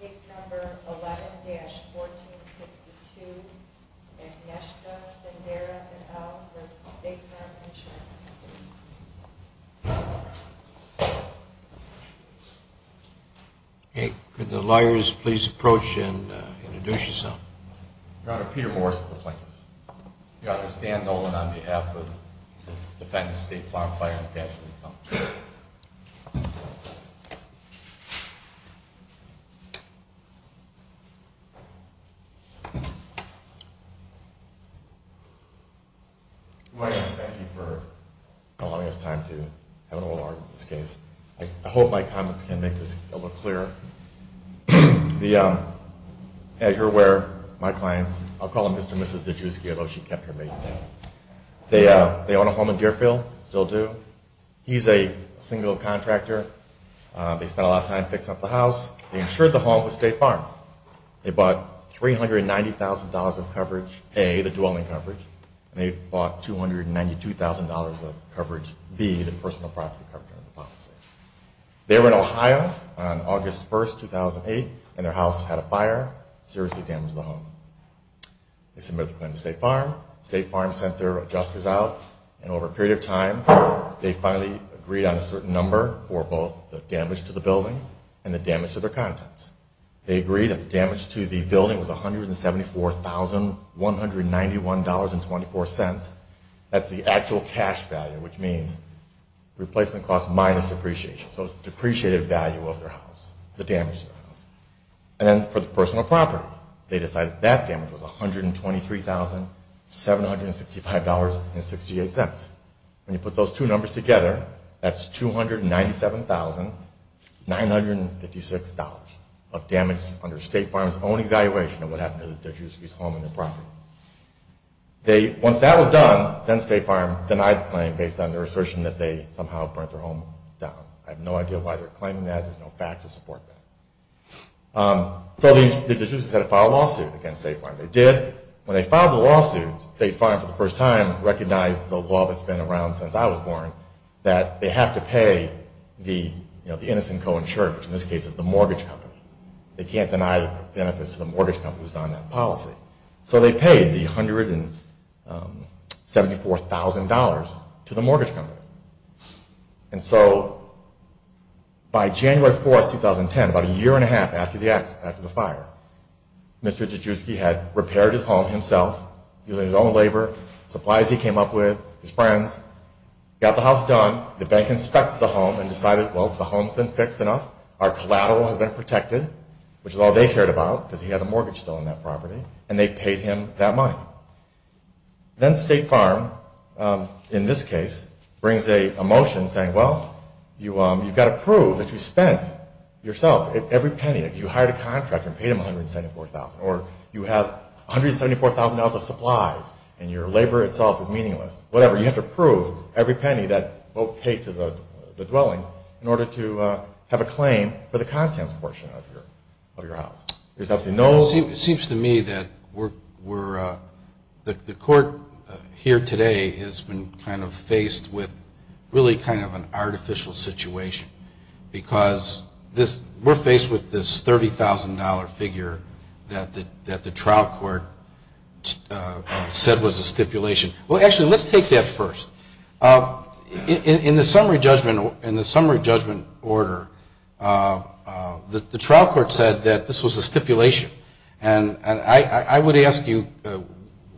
Case No. 11-1462, Agnieszka Stendera et al. v. State Farm Insurance Company Good morning and thank you for allowing us time to have an oral argument in this case. I hope my comments can make this a little clearer. As you're aware, my clients, I'll call them Mr. and Mrs. Nijewski, although she kept her maiden name. They own a home in Deerfield, still do. He's a single contractor. They spent a lot of time fixing up the house. They insured the home with State Farm. They bought $390,000 of coverage A, the dwelling coverage, and they bought $292,000 of coverage B, the personal property coverage. They were in Ohio on August 1, 2008, and their house had a fire, seriously damaged the home. They submitted the claim to State Farm. State Farm sent their adjusters out, and over a period of time, they finally agreed on a certain number for both the damage to the building and the damage to their contents. They agreed that the damage to the building was $174,191.24. That's the actual cash value, which means replacement cost minus depreciation. So it's the depreciated value of their house, the damage to their house. And then for the personal property, they decided that damage was $123,765.68. When you put those two numbers together, that's $297,956 of damage under State Farm's own evaluation of what happened to Nijewski's home and the property. Once that was done, then State Farm denied the claim based on their assertion that they somehow burnt their home down. I have no idea why they're claiming that. There's no facts to support that. So the adjusters had to file a lawsuit against State Farm. They did. When they filed the lawsuit, State Farm, for the first time, recognized the law that's been around since I was born, that they have to pay the innocent co-insurer, which in this case is the mortgage company. They can't deny benefits to the mortgage company who's on that policy. So they paid the $174,000 to the mortgage company. And so by January 4, 2010, about a year and a half after the fire, Mr. Nijewski had repaired his home himself using his own labor, supplies he came up with, his friends. He got the house done. The bank inspected the home and decided, well, if the home's been fixed enough, our collateral has been protected, which is all they cared about because he had a mortgage still on that property, and they paid him that money. Then State Farm, in this case, brings a motion saying, well, you've got to prove that you spent yourself every penny. You hired a contractor and paid him $174,000. Or you have 174,000 ounces of supplies and your labor itself is meaningless. Whatever. You have to prove every penny that both paid to the dwelling in order to have a claim for the contents portion of your house. It seems to me that the court here today has been kind of faced with really kind of an artificial situation because we're faced with this $30,000 figure that the trial court said was a stipulation. Well, actually, let's take that first. In the summary judgment order, the trial court said that this was a stipulation. And I would ask you,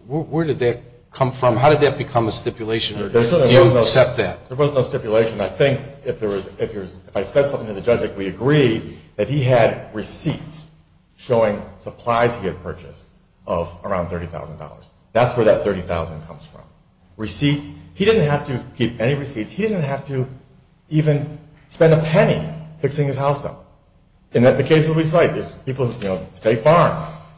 where did that come from? How did that become a stipulation? Do you accept that? There was no stipulation. I think if I said something to the judge, like, we agree that he had receipts showing supplies he had purchased of around $30,000. That's where that $30,000 comes from. Receipts. He didn't have to keep any receipts. He didn't have to even spend a penny fixing his house up. In the case that we cite, there's people, you know, State Farm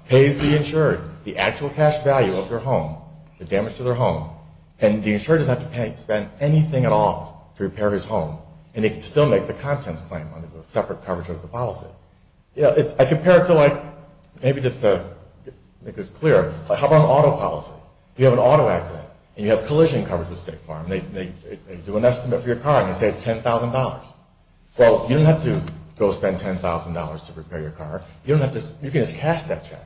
pays the insured the actual cash value of their home, the damage to their home, and the insured doesn't have to pay, spend anything at all to repair his home. And they can still make the contents claim under the separate coverage of the policy. You know, I compare it to like, maybe just to make this an estimate for your car, and you say it's $10,000. Well, you don't have to go spend $10,000 to repair your car. You don't have to, you can just cash that check.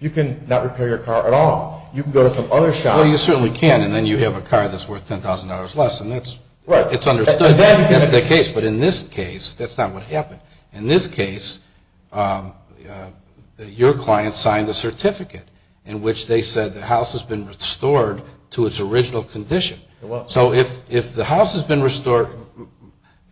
You can not repair your car at all. You can go to some other shop. Well, you certainly can, and then you have a car that's worth $10,000 less, and that's, it's understood. That's the case. But in this case, that's not what happened. In this case, your client signed a certificate in which they said the house has been restored to its original condition. So if the house has been restored,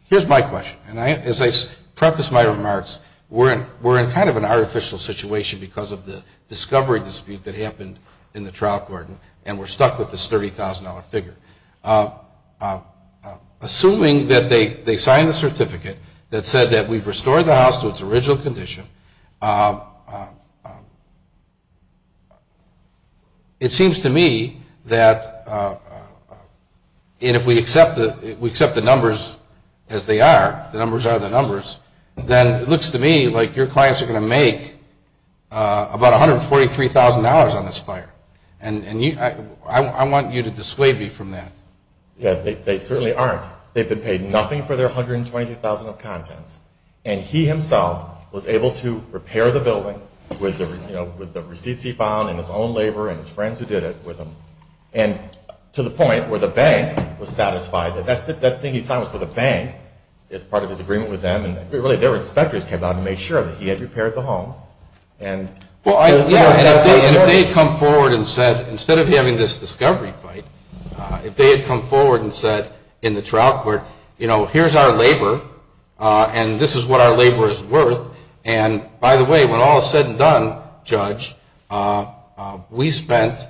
here's my question, and as I preface my remarks, we're in kind of an artificial situation because of the discovery dispute that happened in the trial court, and we're stuck with this $30,000 figure. Assuming that they signed the certificate that said that we've restored the house to its original condition, it seems to me that if we accept the numbers as they are, the numbers are the numbers, then it looks to me like your clients are going to make about $143,000 on this fire, and I want you to dissuade me from that. Yeah, they certainly aren't. They've been paid nothing for their $123,000 of contents, and he himself was able to repair the building with the receipts he found and his own labor and his friends who did it with him, and to the point where the bank was satisfied that that thing he signed was for the bank as part of his agreement with them, and really their inspectors came out and made sure that he had repaired the home. Well, yeah, and if they had come forward and said, instead of having this discovery fight, if they had come forward and said in the trial court, you know, here's our labor, and this is what our labor is worth, and by the way, when all is said and done, Judge, we spent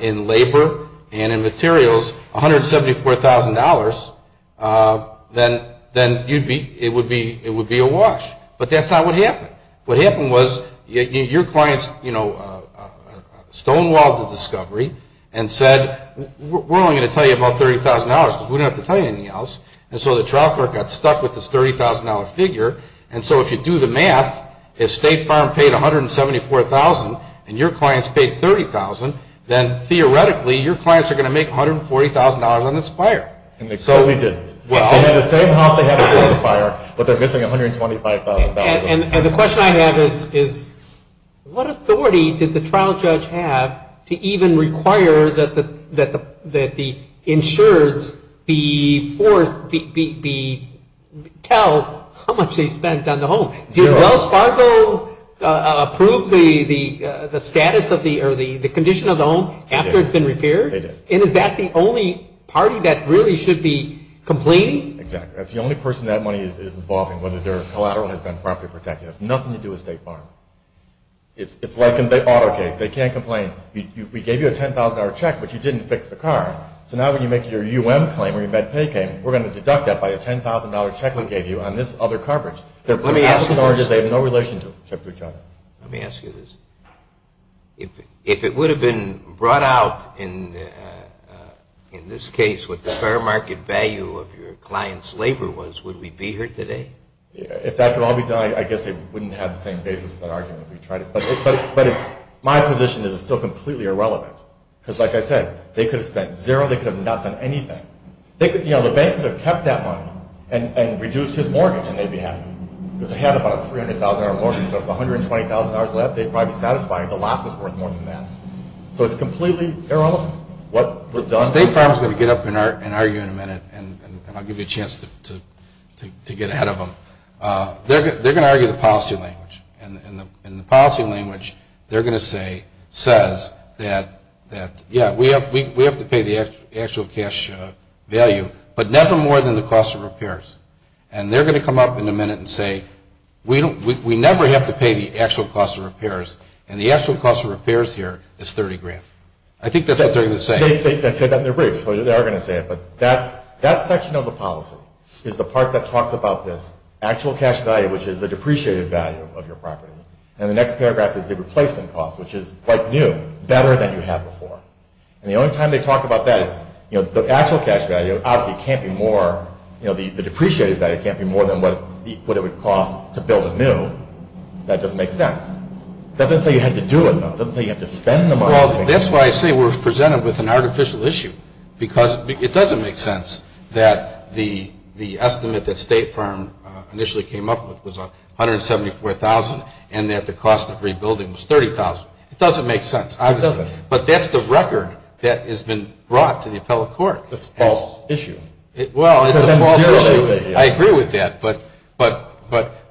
in labor and in materials $174,000, then it would be awash, but that's not what happened. What happened was your clients, you know, stonewalled the discovery and said, we're only going to tell you about $30,000 because we don't have to tell you anything else, and so the trial court got stuck with this $30,000 figure, and so if you do the math, if State Farm paid $174,000 and your clients paid $30,000, then theoretically your clients are going to make $140,000 on this fire. So we did. They had the same house they had before the fire, but they're missing $125,000. And the question I have is, what authority did the trial judge have to even require that the insureds be forced to tell how much they spent on the home? Zero. So did Wells Fargo approve the status or the condition of the home after it had been repaired? They did. And is that the only party that really should be complaining? Exactly. That's the only person that money is involved in, whether their collateral has been properly protected. It has nothing to do with State Farm. It's like an auto case. They can't complain. We gave you a $10,000 check, but you didn't fix the car, so now when you make your U.M. claim or your med pay claim, we're going to deduct that $10,000. Let me ask you this. If it would have been brought out in this case what the fair market value of your clients' labor was, would we be here today? If that could all be done, I guess they wouldn't have the same basis for that argument. But my position is it's still completely irrelevant, because like I said, they could have spent zero, they could have not spent anything. The bank could have kept that money and reduced his mortgage and they'd be happy. Because they had about a $300,000 mortgage, so if they had $120,000 left, they'd probably be satisfied the lot was worth more than that. So it's completely irrelevant what was done. State Farm is going to get up and argue in a minute, and I'll give you a chance to get ahead of them. They're going to argue the policy language, and the policy language they're going to say says that, yeah, we have to pay the actual cash value, but never more than the cost of repairs. And they're going to come up in a minute and say, we never have to pay the actual cost of repairs, and the actual cost of repairs here is $30,000. I think that's what they're going to say. That section of the policy is the part that talks about this actual cash value, which is the depreciated value of your property. And the next paragraph is the replacement cost, which is like new, better than you had before. And the only time they talk about that is the actual cash value obviously can't be more, the depreciated value can't be more than what it would cost to build a new. That doesn't make sense. It doesn't say you had to do it, though. It doesn't say you had to spend the money. Well, that's why I say we're presented with an artificial issue, because it doesn't make sense that the estimate that State Farm initially came up with was $174,000 and that the cost of rebuilding was $30,000. It doesn't make sense. It doesn't. But that's the record that has been brought to the appellate court. It's a false issue. I agree with that, but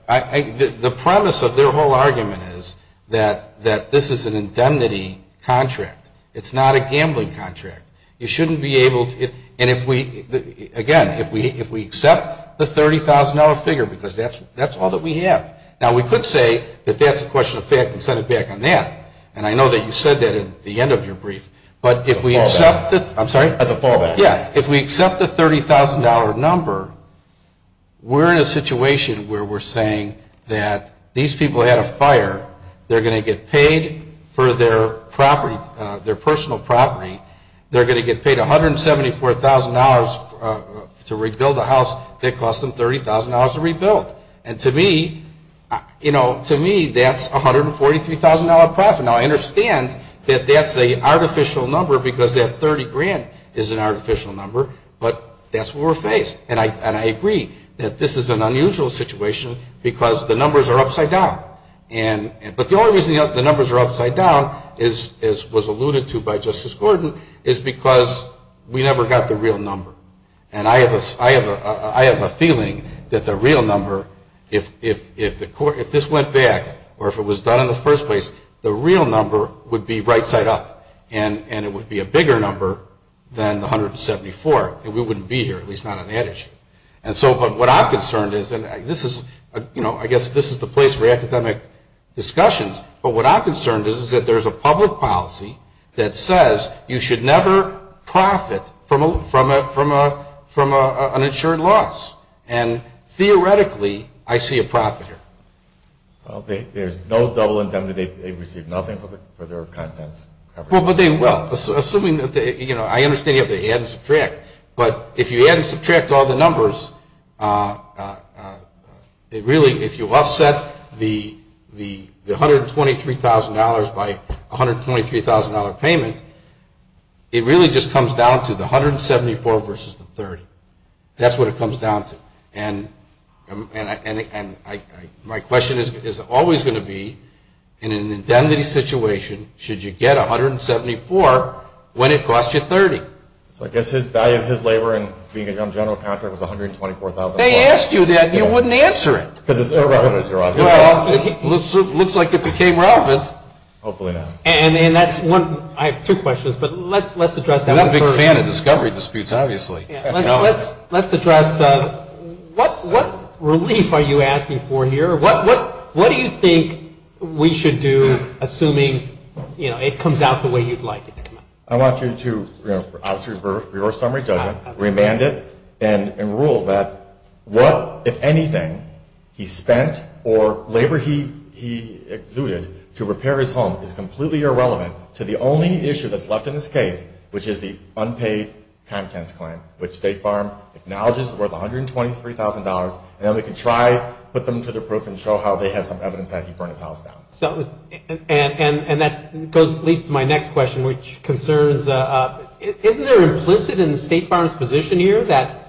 the premise of their whole argument is that this is an indemnity contract. It's not a gambling contract. You shouldn't be able to, and if we, again, if we accept the $30,000 figure, because that's all that we have. Now, we could say that that's a question of fact and send it back on that. And I know that you said that at the end of your brief. But if we accept the $30,000 number, we're in a situation where we're saying that these people had a fire. They're going to get paid for their property, their personal property. They're going to get paid $174,000 to rebuild a house that cost them $30,000 to rebuild. And to me, you know, to me, that's $143,000 profit. Now, I understand that that's an artificial number because that $30,000 is an artificial number, but that's what we're faced. And I agree that this is an unusual situation because the numbers are upside down. But the only reason the numbers are upside down, as was alluded to by Justice Gordon, is because we never got the real number. And I have a feeling that the real number, if this went back or if it was done in the first place, the real number would be right-side up. And it would be a bigger number than the $174,000. And we wouldn't be here, at least not on that issue. And so what I'm concerned is, and I guess this is the place for academic discussions, but what I'm concerned is that there's a public policy that says you should never profit from an insured loss. And theoretically, I see a profit here. Well, there's no double indemnity. They receive nothing for their contents. Well, but they will, assuming that, you know, I understand you have to add and subtract. But if you add and subtract all the numbers, it really, if you offset the $123,000 by a $123,000 payment, it really just comes down to the $174,000 versus the $30,000. That's what it comes down to. And my question is always going to be, in an indemnity situation, should you get $174,000 when it costs you $30,000? So I guess his value of his labor and being a general contractor was $124,000. They asked you that and you wouldn't answer it. Well, it looks like it became relevant. I have two questions, but let's address them first. I'm not a big fan of discovery disputes, obviously. Let's address what relief are you asking for here? What do you think we should do, assuming it comes out the way you'd like it to come out? The amount of money he spent or labor he exuded to repair his home is completely irrelevant to the only issue that's left in this case, which is the unpaid contents claim, which State Farm acknowledges is worth $123,000. And then we can try to put them to the proof and show how they have some evidence that he burned his house down. And that leads to my next question, which concerns, isn't there implicit in State Farm's position here that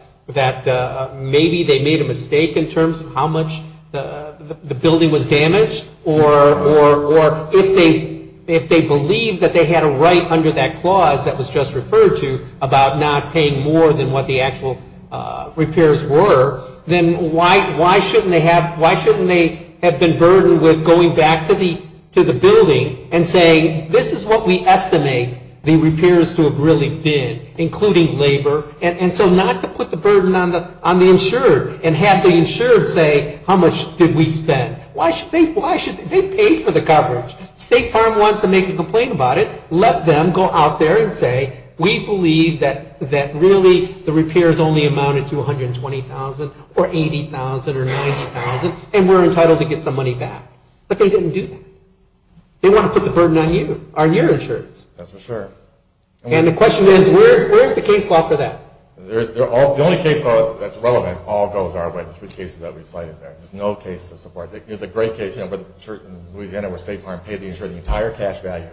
maybe they made a mistake in terms of how much the building was damaged, or if they believe that they had a right under that clause that was just referred to about not paying more than what the actual repairs were, then why shouldn't they have been burdened with going back to the building and saying, this is what we estimate the repairs to have really been, including labor. And so not to put the burden on the insurer and have the insurer say, how much did we spend? Why should they pay for the coverage? State Farm wants to make a complaint about it. Let them go out there and say, we believe that really the repairs only amounted to $120,000 or $80,000 or $90,000, and we're entitled to get some money back. But they didn't do that. They want to put the burden on you, on your insurance. And the question is, where's the case law for that? The only case law that's relevant all goes our way, the three cases that we've cited there. There's no case of support. There's a great case in Louisiana where State Farm paid the insurer the entire cash value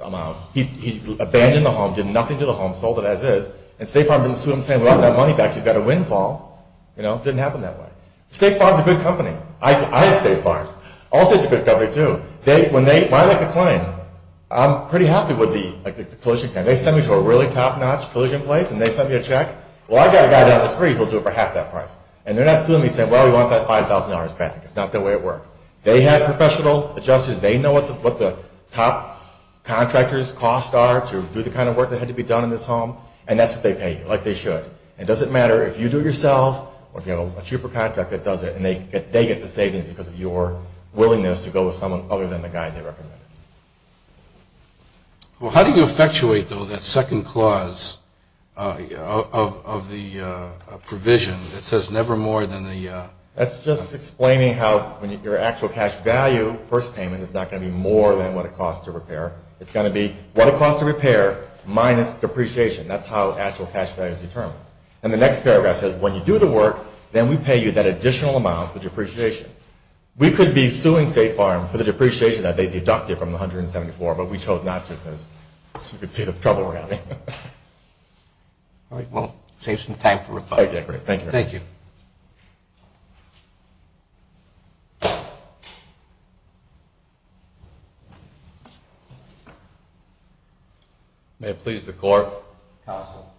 amount. He abandoned the home, did nothing to the home, sold it as is, and State Farm didn't sue him saying, we want that money back, you've got a windfall. It didn't happen that way. State Farm's a good company. I have State Farm. Allstate's a good company, too. When I make a claim, I'm pretty happy with the collusion plan. They send me to a really top-notch collusion place and they send me a check. Well, I've got a guy down the street who'll do it for half that price. And they're not suing me saying, well, we want that $5,000 back. It's not the way it works. They have professional adjusters. They know what the top contractor's costs are to do the kind of work that had to be done in this home. And that's what they pay you, like they should. It doesn't matter if you do it yourself or if you have a cheaper contractor that does it. And they get the savings because of your willingness to go with someone other than the guy they recommended. Well, how do you effectuate, though, that second clause of the provision that says never more than the... That's just explaining how your actual cash value, first payment, is not going to be more than what it costs to repair. It's going to be what it costs to repair minus depreciation. That's how actual cash value is determined. And the next paragraph says when you do the work, then we pay you that additional amount, the depreciation. We could be suing State Farm for the depreciation that they deducted from the $174,000, but we chose not to because you can see the trouble we're having. All right. Well, save some time for reply. Oh, yeah, great. Thank you. Thank you. May it please the Court. Counsel.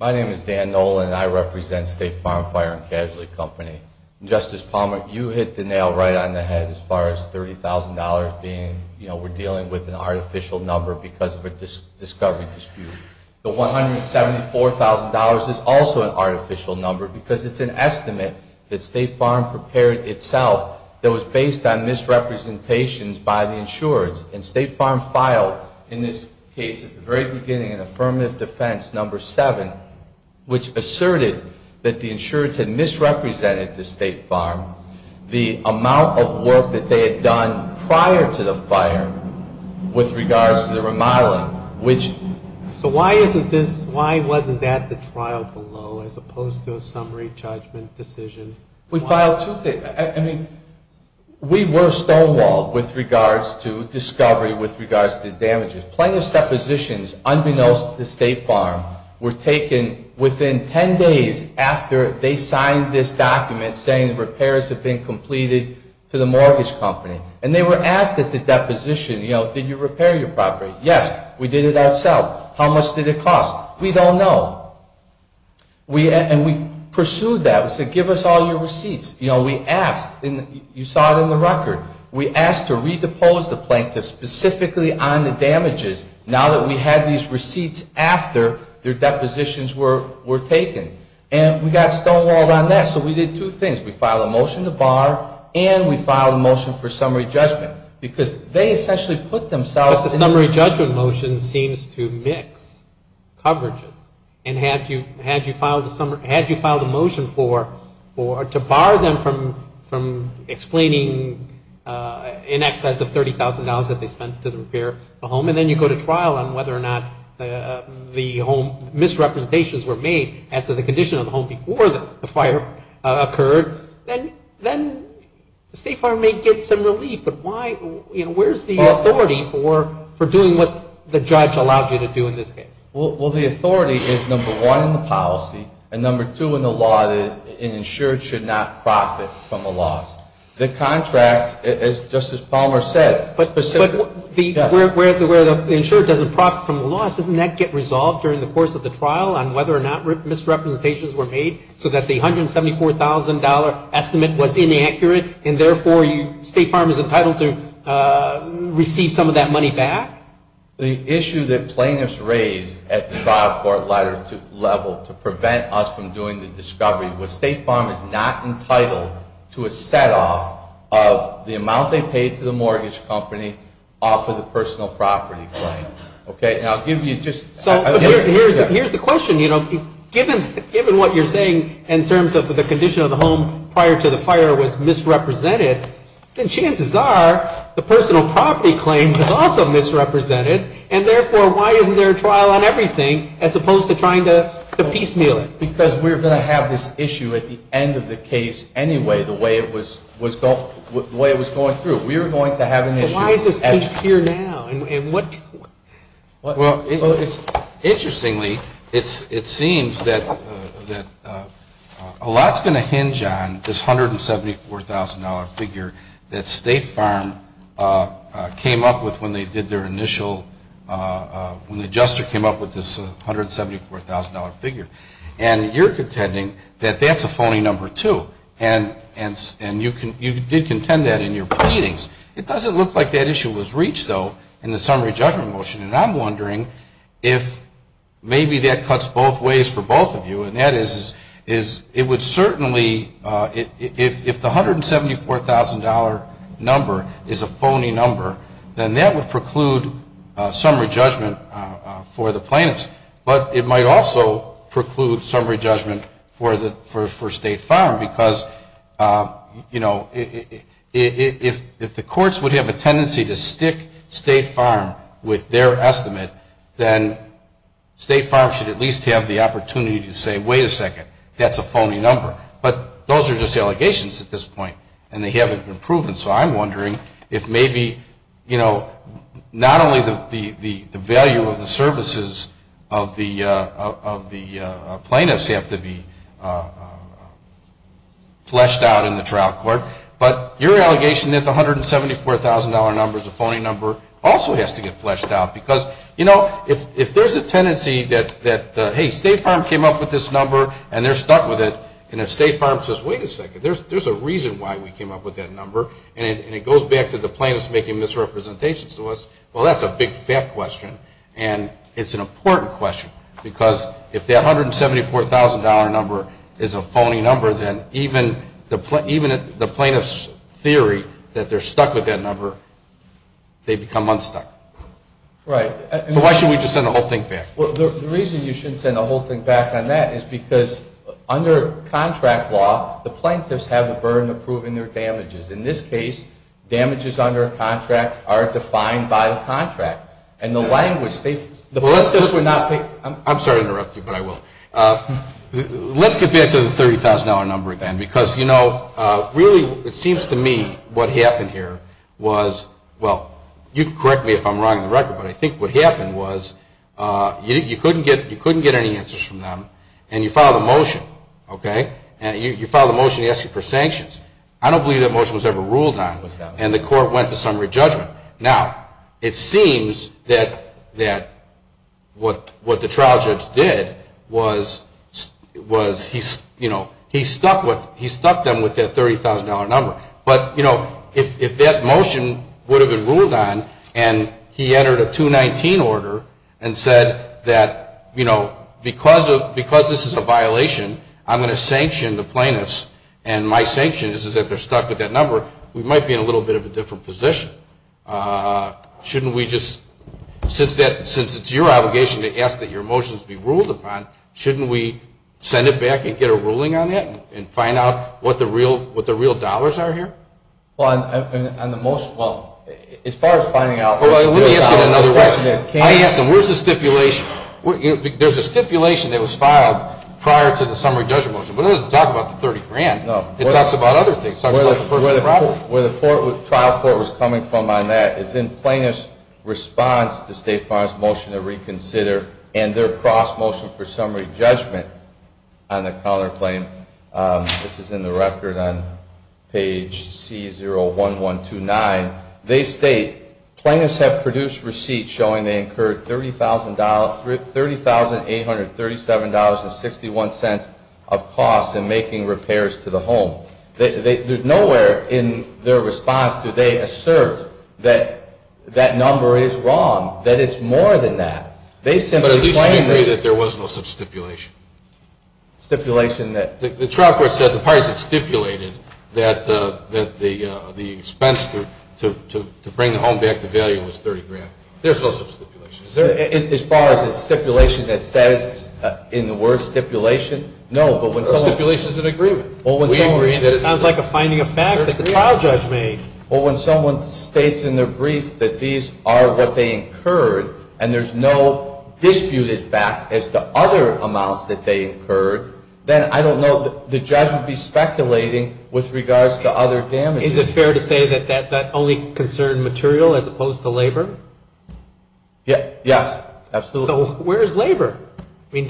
My name is Dan Nolan, and I represent State Farm Fire and Casualty Company. Justice Palmer, you hit the nail right on the head as far as $30,000 being, you know, we're dealing with an artificial number because of a discovery dispute. The $174,000 is also an artificial number because it's an estimate that State Farm prepared itself that was based on misrepresentations by the insurers. And State Farm filed in this case at the very beginning an affirmative defense, number seven, which asserted that the insurers had misrepresented to State Farm the amount of work that they had done prior to the fire with regards to the remodeling, which So why isn't this, why wasn't that the trial below as opposed to a summary judgment decision? We filed two things. I mean, we were stonewalled with regards to discovery with regards to damages. Plaintiffs' depositions, unbeknownst to State Farm, were taken within ten days after they signed this document saying repairs had been completed to the mortgage company. And they were asked at the deposition, you know, did you repair your property? Yes, we did it ourselves. How much did it cost? We don't know. And we pursued that. We said, give us all your receipts. You know, we asked. You saw it in the record. We asked to redepose the plaintiff specifically on the damages now that we had these receipts after their depositions were taken. And we got stonewalled on that. So we did two things. We filed a motion to bar and we filed a motion for summary judgment because they essentially put themselves in the... But the summary judgment motion seems to mix coverages. And had you filed a motion for, to bar them from explaining in excess of $30,000 that they spent to repair the home and then you go to trial on whether or not the home misrepresentations were made as to the condition of the home before the fire occurred, then the State Fire may get some relief. But why, you know, where's the authority for doing what the judge allowed you to do in this case? Well, the authority is number one in the policy and number two in the law that an insured should not profit from a loss. The contract, as Justice Palmer said, specifically... But where the insured doesn't profit from the loss, doesn't that get resolved during the course of the trial on whether or not misrepresentations were made so that the $174,000 estimate was inaccurate and therefore State Farm is entitled to receive some of that money back? The issue that plaintiffs raised at the trial court level to prevent us from doing the discovery was State Farm is not entitled to a setoff of the amount they paid to the mortgage company off of the personal property claim. Okay? And I'll give you just... Here's the question, you know. Given what you're saying in terms of the condition of the home prior to the fire was misrepresented, then chances are the personal property claim is also misrepresented and therefore why isn't there a trial on everything as opposed to trying to piecemeal it? Because we're going to have this issue at the end of the case anyway, the way it was going through. We're going to have an issue... Why is this case here now? And what... Well, interestingly, it seems that a lot's going to hinge on this $174,000 figure that State Farm came up with when they did their initial... When the adjuster came up with this $174,000 figure. And you're contending that that's a phony number too. And you did contend that in your reach though in the summary judgment motion. And I'm wondering if maybe that cuts both ways for both of you. And that is it would certainly... If the $174,000 number is a phony number, then that would preclude summary judgment for the plaintiffs. But it might also preclude summary judgment for State Farm. Because, you know, if the courts would have a tendency to stick State Farm with their estimate, then State Farm should at least have the opportunity to say, wait a second, that's a phony number. But those are just allegations at this point. And they haven't been proven. So I'm wondering if maybe, you know, not only the value of the services of the plaintiffs have to be fleshed out in the trial court, but your allegation that the $174,000 number is a phony number also has to get fleshed out. Because, you know, if there's a tendency that, hey, State Farm came up with this number and it goes back to the plaintiffs making misrepresentations to us, well, that's a big fat question. And it's an important question. Because if that $174,000 number is a phony number, then even the plaintiff's theory that they're stuck with that number, they become unstuck. Right. So why should we just send the whole thing back? Well, the reason you shouldn't send the whole thing back on that is because under contract law, the plaintiffs have a burden of proving their damages. In this case, damages under a contract are defined by the contract. And the language, the plaintiffs were not I'm sorry to interrupt you, but I will. Let's get back to the $30,000 number again. Because, you know, really it seems to me what happened here was, well, you can correct me if I'm wrong on the record, but I think what happened was you couldn't get any answers from them and you filed a motion, okay? And you filed a motion asking for sanctions. I don't believe that motion was ever ruled on. And the court went to summary judgment. Now, it seems that what the trial judge did was, you know, he stuck them with that $30,000 number. But, you know, if that motion would have been ruled on and he entered a 219 order and said that, you know, because this is a violation, I'm going to sanction the plaintiffs and my sanction is that they're stuck with that number, we might be in a little bit of a different position. Shouldn't we just, since it's your obligation to ask that your motions be ruled upon, shouldn't we send it back and get a ruling on that and find out what the real dollars are here? Well, on the motion, well, as far as finding out what the real dollars are, the question is can you... I asked them, where's the stipulation? There's a stipulation that was filed prior to the summary judgment motion, but it doesn't talk about the $30,000. It talks about other things. It talks about the personal property. Where the trial court was coming from on that is in plaintiff's response to State Farm's motion to reconsider and their cross-motion for summary judgment on the counterclaim. This is in the record on page C01129. They state, plaintiffs have produced receipts showing they incurred $30,837.61 of costs in making repairs to the home. Nowhere in their response do they assert that that number is wrong, that it's more than that. But at least they agree that there was no sub-stipulation. Stipulation that... The trial court said the parties had stipulated that the expense to bring the home back to value was $30,000. There's no sub-stipulation. As far as a stipulation that says in the word stipulation, no. A stipulation is an agreement. It sounds like a finding of fact that the trial judge made. Well, when someone states in their brief that these are what they incurred and there's no disputed fact as to other amounts that they incurred, then I don't know, the judge would be speculating with regards to other damages. Is it fair to say that that only concerned material as opposed to labor? Yes, absolutely. So where is labor? I mean,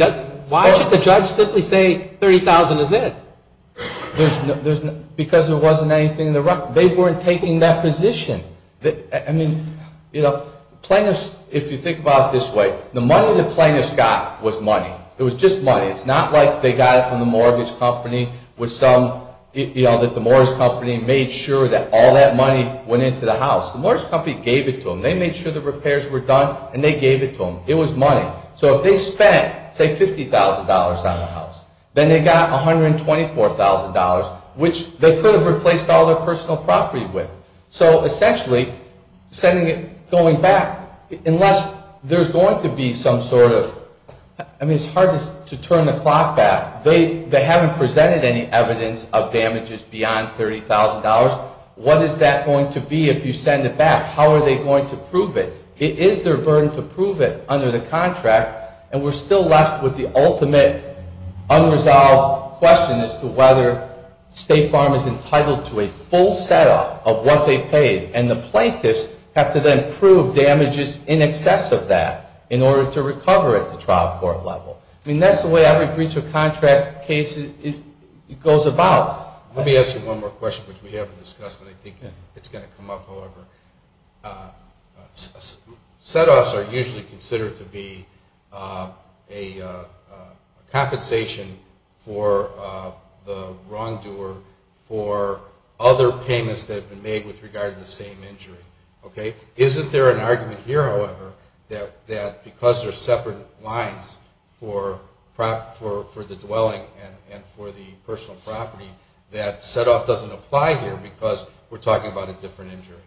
why should the judge simply say $30,000 is it? Because there wasn't anything in the record. They weren't taking that position. I mean, plaintiffs, if you think about it this way, the money the plaintiffs got was money. It was just money. It's not like they got it from the mortgage company with some, you know, that the mortgage company made sure that all that money went into the house. The mortgage company gave it to them. They made sure the repairs were done and they gave it to them. It was money. So if they spent, say, $50,000 on the house, then they got $124,000, which they could have replaced all their personal property with. So essentially, sending it, going back, unless there's going to be some sort of, I mean, it's hard to turn the clock back. They haven't presented any evidence of damages beyond $30,000. What is that going to be if you send it back? How are they going to prove it? It is their burden to prove it under the contract. And we're still left with the ultimate unresolved question as to whether State Farm is entitled to a full setup of what they paid. And the plaintiffs have to then prove damages in excess of that in order to recover it at the trial court level. I mean, that's the way every breach of contract case goes about. Let me ask you one more question, which we haven't discussed, and I think it's going to come up, however. Setoffs are usually considered to be a compensation for the wrongdoer for other payments that have been made with regard to the same injury. Isn't there an argument here, however, that because there are separate lines for the dwelling and for the personal property, that setoff doesn't apply here because we're talking about a different injury?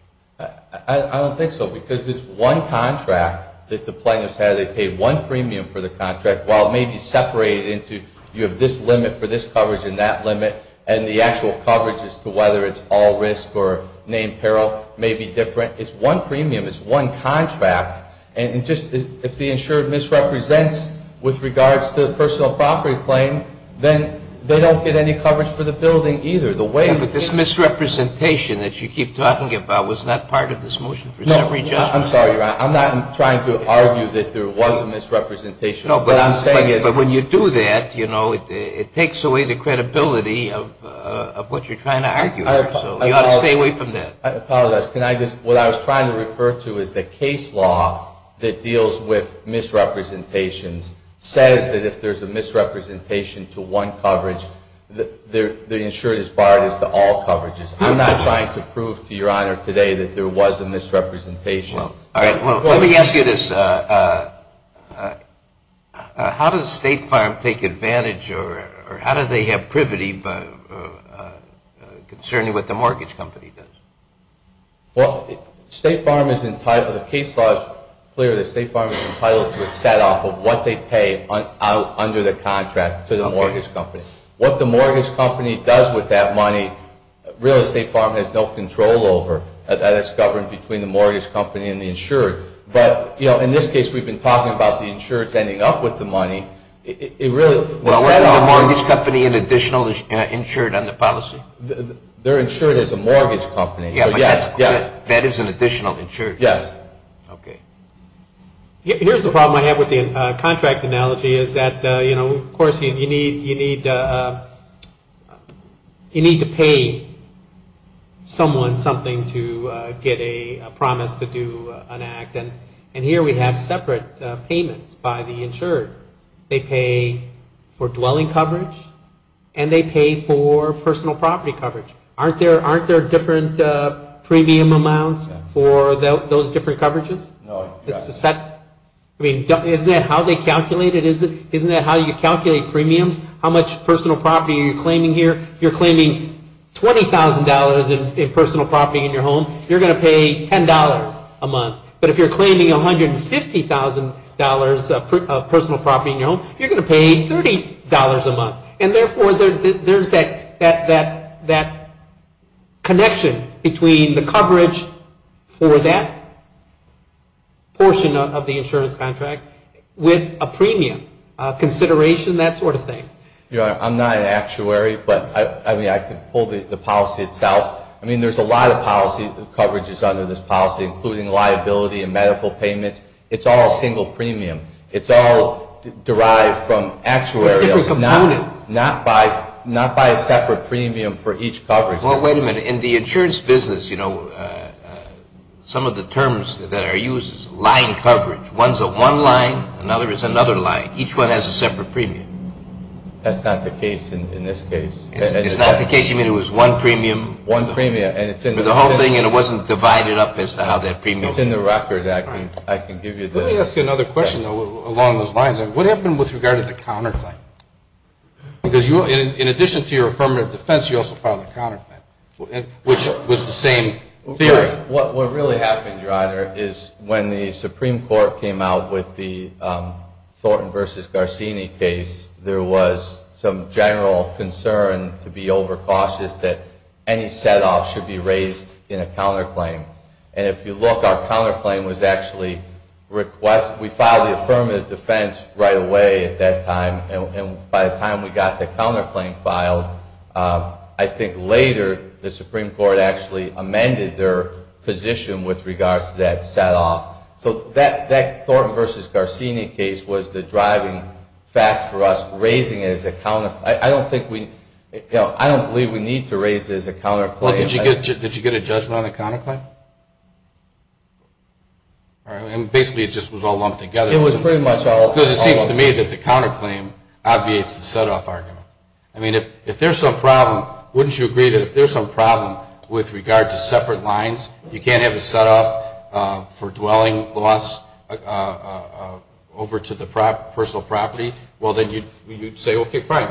I don't think so, because it's one contract that the plaintiffs had. They paid one premium for the contract. While it may be separated into you have this limit for this coverage and that limit, and the actual coverage as to whether it's all risk or named peril may be different. It's one premium. It's one contract. And just if the insured misrepresents with regards to the personal property claim, then they don't get any coverage for the building either. But this misrepresentation that you keep talking about was not part of this motion for summary judgment. No, I'm sorry, Ron. I'm not trying to argue that there was a misrepresentation. But when you do that, you know, it takes away the credibility of what you're trying to argue. So you ought to stay away from that. I apologize. What I was trying to refer to is the case law that deals with misrepresentations says that if there's a misrepresentation to one coverage, the insured is barred as to all coverages. I'm not trying to prove to Your Honor today that there was a misrepresentation. Let me ask you this. How does State Farm take advantage or how do they have privity concerning what the mortgage company does? Well, State Farm is entitled, the case law is clear that State Farm is entitled to a set off of what they pay under the contract to the mortgage company. What the mortgage company does with that money, real estate farm has no control over. That is governed between the mortgage company and the insured. But, you know, in this case, we've been talking about the insureds ending up with the money. Is the mortgage company an additional insured under policy? They're insured as a mortgage company. Yes. That is an additional insured. Yes. Okay. Here's the problem I have with the contract analogy is that, you know, of course you need to pay someone something to get a promise to do an act. And here we have separate payments by the insured. They pay for dwelling coverage and they pay for personal property coverage. Aren't there different premium amounts for those different coverages? No. I mean, isn't that how they calculate it? Isn't that how you calculate premiums? How much personal property are you claiming here? If you're claiming $20,000 in personal property in your home, you're going to pay $10 a month. But if you're claiming $150,000 of personal property in your home, you're going to pay $30 a month. And, therefore, there's that connection between the coverage for that portion of the insurance contract with a premium, consideration, that sort of thing. Your Honor, I'm not an actuary, but, I mean, I can pull the policy itself. I mean, there's a lot of policy coverages under this policy, including liability and medical payments. It's all single premium. It's all derived from actuarials. Different components. Not by a separate premium for each coverage. Well, wait a minute. In the insurance business, you know, some of the terms that are used is line coverage. One's one line. Another is another line. Each one has a separate premium. That's not the case in this case. It's not the case. You mean it was one premium? One premium. And it's in the record. But the whole thing, and it wasn't divided up as to how that premium is. It's in the record. I can give you that. Let me ask you another question, though, along those lines. What happened with regard to the counterclaim? Because in addition to your affirmative defense, you also filed a counterclaim, which was the same theory. What really happened, Your Honor, is when the Supreme Court came out with the Thornton v. Garcini case, there was some general concern to be overcautious that any set-off should be raised in a counterclaim. And if you look, our counterclaim was actually request. We filed the affirmative defense right away at that time. And by the time we got the counterclaim filed, I think later the Supreme Court actually amended their position with regards to that set-off. So that Thornton v. Garcini case was the driving fact for us raising it as a counterclaim. I don't think we, you know, I don't believe we need to raise it as a counterclaim. Did you get a judgment on the counterclaim? And basically it just was all lumped together. It was pretty much all lumped together. Because it seems to me that the counterclaim obviates the set-off argument. I mean, if there's some problem, wouldn't you agree that if there's some problem with regard to separate lines, you can't have a set-off for dwelling loss over to the personal property? Well, then you'd say, okay, fine.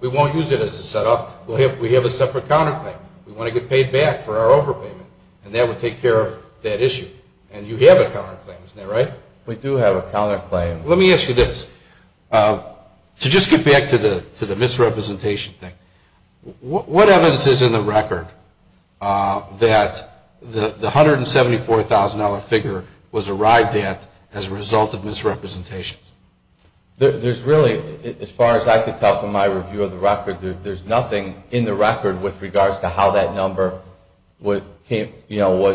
We won't use it as a set-off. We have a separate counterclaim. We want to get paid back for our overpayment. And that would take care of that issue. And you have a counterclaim, isn't that right? We do have a counterclaim. Let me ask you this. To just get back to the misrepresentation thing, what evidence is in the record that the $174,000 figure was arrived at as a result of misrepresentation? There's really, as far as I can tell from my review of the record, there's nothing in the record with regards to how that number was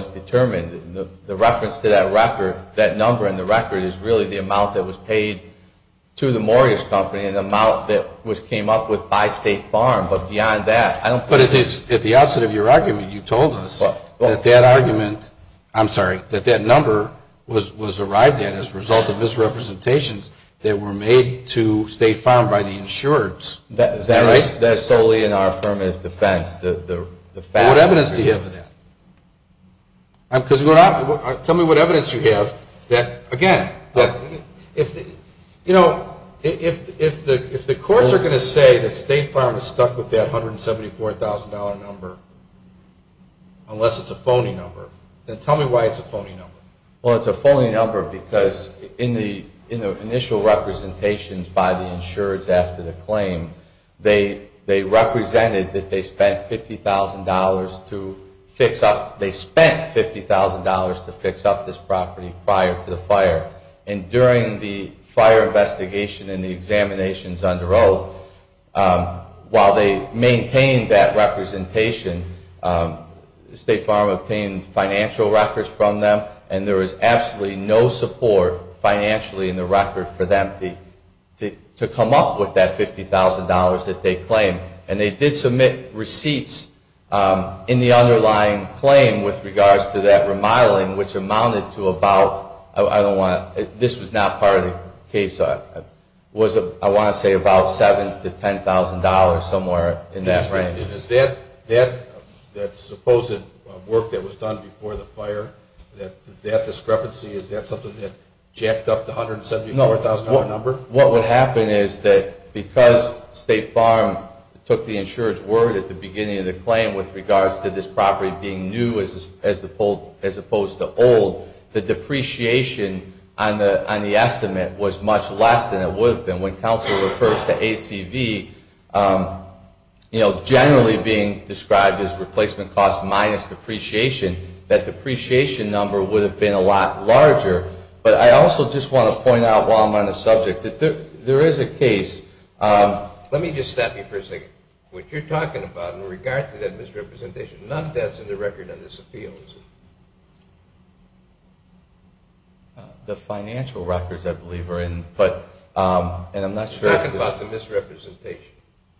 determined. The reference to that record, that number in the record, is really the amount that was paid to the mortgage company and the amount that was came up with by State Farm. But beyond that, I don't... But at the outset of your argument, you told us that that argument, I'm sorry, that that number was arrived at as a result of misrepresentations that were made to State Farm by the insurers. Is that right? That's solely in our affirmative defense. What evidence do you have of that? Tell me what evidence you have. Again, if the courts are going to say that State Farm is stuck with that $174,000 number, unless it's a phony number, then tell me why it's a phony number. Well, it's a phony number because in the initial representations by the insurers after the claim, they represented that they spent $50,000 to fix up... they spent $50,000 to fix up this property prior to the fire. And during the fire investigation and the examinations under oath, while they maintained that representation, State Farm obtained financial records from them and there was absolutely no support financially in the record for them to come up with that $50,000 that they claimed. And they did submit receipts in the underlying claim with regards to that remodeling, which amounted to about... $10,000 somewhere in that range. Is that supposed work that was done before the fire, that discrepancy, is that something that jacked up the $174,000 number? No. What would happen is that because State Farm took the insurer's word at the beginning of the claim with regards to this property being new as opposed to old, the depreciation on the estimate was much less than it would have been. When counsel refers to ACV, you know, generally being described as replacement cost minus depreciation, that depreciation number would have been a lot larger. But I also just want to point out while I'm on the subject that there is a case... Let me just stop you for a second. What you're talking about in regards to that misrepresentation, none of that's in the record on this appeal, is it? The financial records, I believe, are in, but I'm not sure... You're talking about the misrepresentation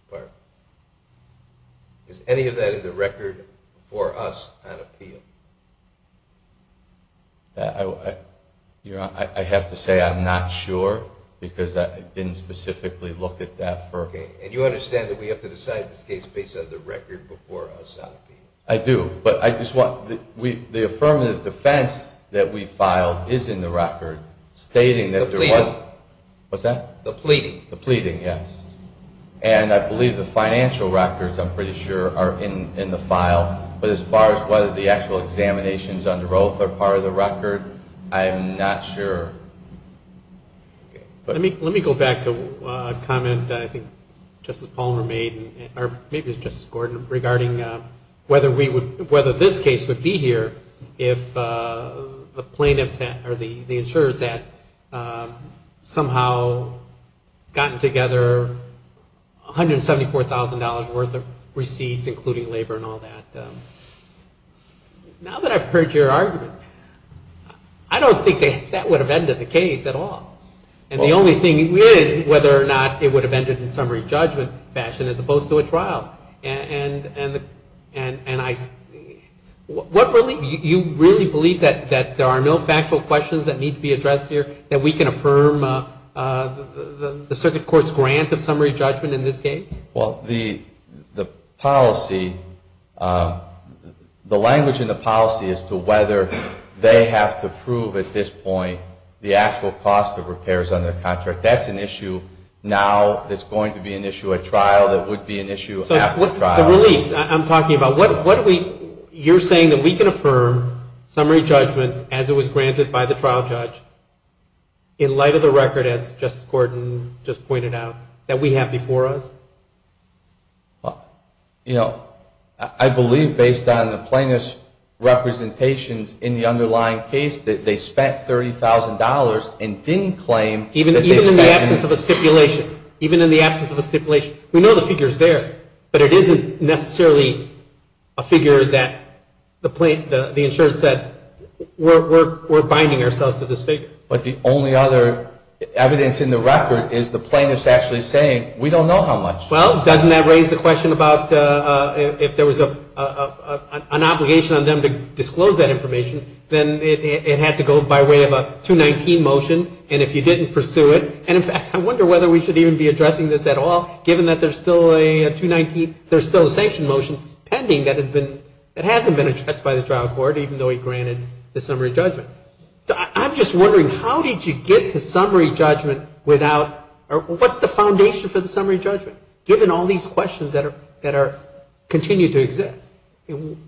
part. Is any of that in the record for us on appeal? You know, I have to say I'm not sure because I didn't specifically look at that for... And you understand that we have to decide this case based on the record before us on appeal? I do. But I just want... The affirmative defense that we filed is in the record, stating that there was... The pleading. What's that? The pleading. The pleading, yes. And I believe the financial records, I'm pretty sure, are in the file. But as far as whether the actual examinations under oath are part of the record, I'm not sure. Let me go back to a comment I think Justice Palmer made, or maybe it was Justice Gordon, regarding whether this case would be here if the plaintiffs had, or the insurers had, somehow gotten together $174,000 worth of receipts, including labor and all that. Now that I've heard your argument, I don't think that would have ended the case at all. And the only thing is whether or not it would have ended in summary judgment fashion as opposed to a trial. You really believe that there are no factual questions that need to be addressed here, that we can affirm the circuit court's grant of summary judgment in this case? Well, the policy, the language in the policy as to whether they have to prove at this point the actual cost of repairs on their contract, that's an issue now that's going to be an issue at trial, that would be an issue after trial. The relief I'm talking about, you're saying that we can affirm summary judgment as it was granted by the trial judge in light of the record, as Justice Gordon just pointed out, that we have before us? Well, you know, I believe based on the plaintiff's representations in the underlying case that they spent $30,000 and didn't claim that they spent... Even in the absence of a stipulation. Even in the absence of a stipulation. We know the figure's there, but it isn't necessarily a figure that the insurance said, we're binding ourselves to this figure. But the only other evidence in the record is the plaintiff's actually saying, we don't know how much. Well, doesn't that raise the question about if there was an obligation on them to disclose that information, then it had to go by way of a 219 motion, and if you didn't pursue it... And in fact, I wonder whether we should even be addressing this at all, given that there's still a 219... There's still a sanction motion pending that has been... that hasn't been addressed by the trial court, even though he granted the summary judgment. So I'm just wondering, how did you get to summary judgment without... What's the foundation for the summary judgment, given all these questions that are... continue to exist?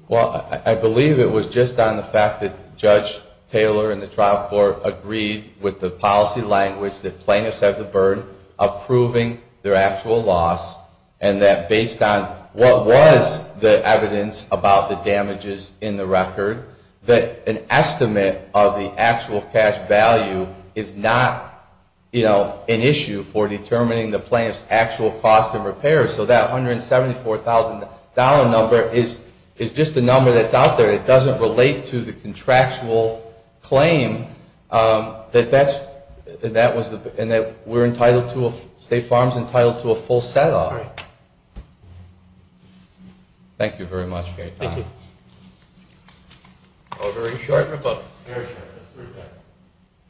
Well, I believe it was just on the fact that Judge Taylor and the trial court agreed with the policy language that plaintiffs have the burden of proving their actual loss, and that based on what was the evidence about the damages in the record, that an estimate of the actual cash value is not, you know, an issue for determining the plaintiff's actual cost of repairs. So that $174,000 number is... is just a number that's out there. It doesn't relate to the contractual claim that that's... that was the... and that we're entitled to a... State Farm's entitled to a full set-off. Thank you very much. Thank you. Very short, but... Very short. Just three things.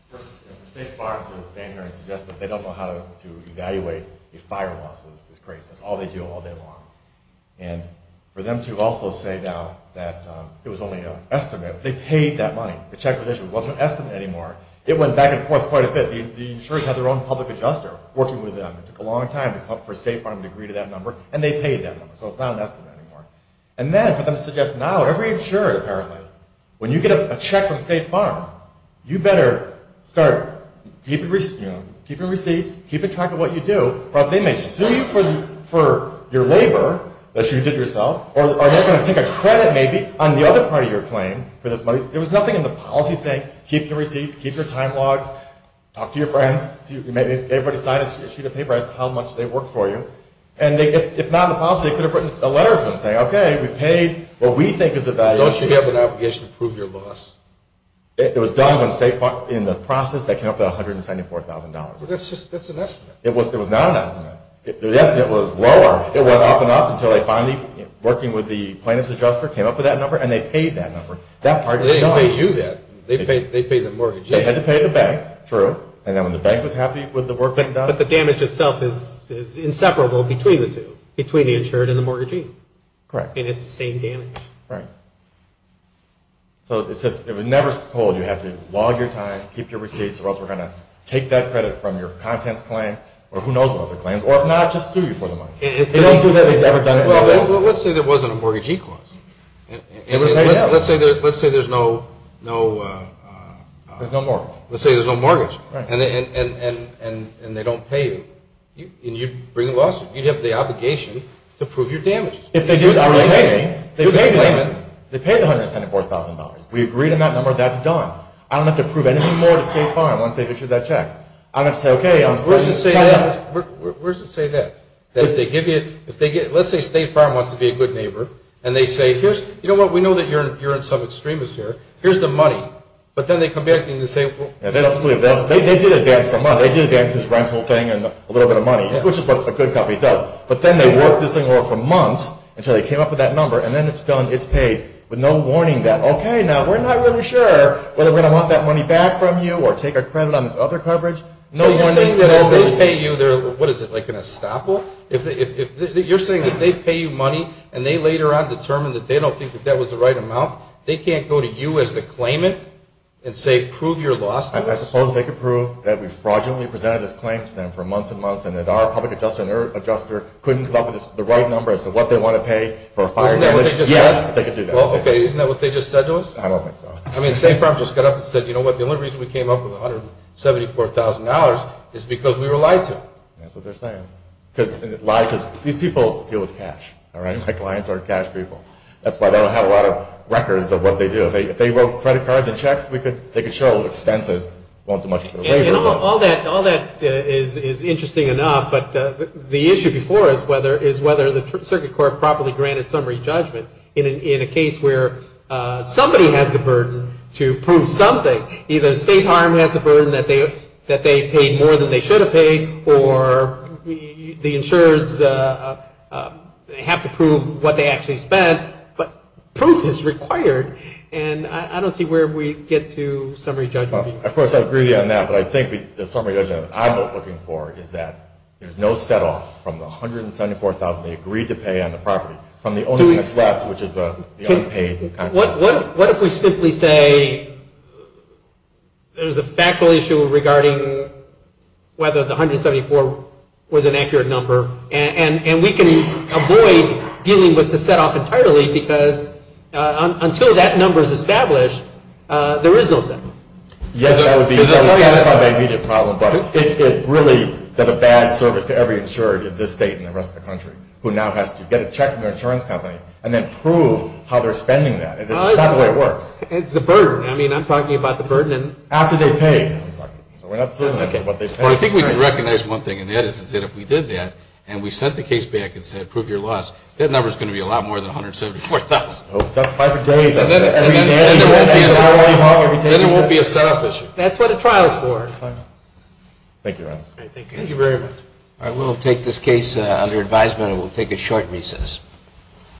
First, State Farms are going to stand here and suggest that they don't know how to evaluate if fire loss is created. That's all they do all day long. And for them to also say now that it was only an estimate. They paid that money. The check was issued. It wasn't an estimate anymore. It went back and forth quite a bit. The insurers had their own public adjuster working with them. It took a long time for State Farm to agree to that number, and they paid that number. So it's not an estimate anymore. And then for them to suggest now, every insurer apparently, when you get a check from State Farm, you better start keeping receipts, keeping track of what you do, or else they may sue you for your labor that you did yourself, or they're going to take a credit, maybe, on the other part of your claim for this money. There was nothing in the policy saying keep your receipts, keep your time logs, talk to your friends. Everybody signed a sheet of paper as to how much they worked for you. And if not in the policy, they could have written a letter to them saying, okay, we paid what we think is the value. So don't you have an obligation to prove your loss? It was done when State Farm, in the process, they came up with $174,000. But that's an estimate. It was not an estimate. The estimate was lower. It went up and up until they finally, working with the plaintiff's adjuster, came up with that number, and they paid that number. They didn't pay you that. They paid the mortgagee. They had to pay the bank. True. And then when the bank was happy with the work being done. But the damage itself is inseparable between the two, between the insured and the mortgagee. Correct. And it's the same damage. Right. So it's just, it was never told, you have to log your time, keep your receipts, or else we're going to take that credit from your contents claim, or who knows what other claims, or if not, just sue you for the money. They don't do that. They've never done it. Well, let's say there wasn't a mortgagee clause. Let's say there's no... If they don't pay you, and you bring a lawsuit, you'd have the obligation to prove your damages. If they do, I would pay them. They paid $174,000. We agreed on that number. That's done. I don't have to prove anything more to State Farm once they issue that check. Where's it say that? Let's say State Farm wants to be a good neighbor, and they say, you know what, we know that you're in some extremis here. Here's the money. But then they come back to you and say... They did advance the money. They did advance his rental thing and a little bit of money, which is what a good company does. But then they worked this thing over for months until they came up with that number, and then it's done, it's paid, with no warning that, okay, now we're not really sure whether we're going to want that money back from you or take our credit on this other coverage. So you're saying that if they pay you their... What is it, like an estoppel? You're saying that they pay you money, and they later on determine that they don't think that that was the right amount, they can't go to you as the claimant and say, prove your loss? I suppose they could prove that we fraudulently presented this claim to them for months and months and that our public adjuster couldn't come up with the right number as to what they want to pay for a fire damage. Yes, they could do that. Well, okay, isn't that what they just said to us? I don't think so. I mean, State Farm just got up and said, you know what, the only reason we came up with $174,000 is because we were lied to. That's what they're saying. Because these people deal with cash, all right? My clients aren't cash people. That's why they don't have a lot of records of what they do. If they wrote credit cards and checks, they could show expenses. All that is interesting enough, but the issue before us is whether the Circuit Court properly granted summary judgment in a case where somebody has the burden to prove something. Either State Farm has the burden that they paid more than they should have paid, or the insurers have to prove what they actually spent, but proof is required, and I don't see where we get to summary judgment. Of course, I agree on that, but I think the summary judgment I'm looking for is that there's no set-off from the $174,000 they agreed to pay on the property from the only thing that's left, which is the unpaid. What if we simply say there's a factual issue regarding whether the $174,000 was an accurate number, and we can avoid dealing with the set-off entirely because until that number is established, there is no set-off. Yes, that would be the immediate problem, but it really does a bad service to every insurer in this state and the rest of the country, who now has to get a check from their insurance company and then prove how they're spending that. That's not the way it works. It's the burden. I'm talking about the burden. After they pay. I think we can recognize one thing, and that is that if we did that and we sent the case back and said, prove your loss, that number is going to be a lot more than $174,000. Then it won't be a set-off issue. That's what a trial is for. Thank you very much.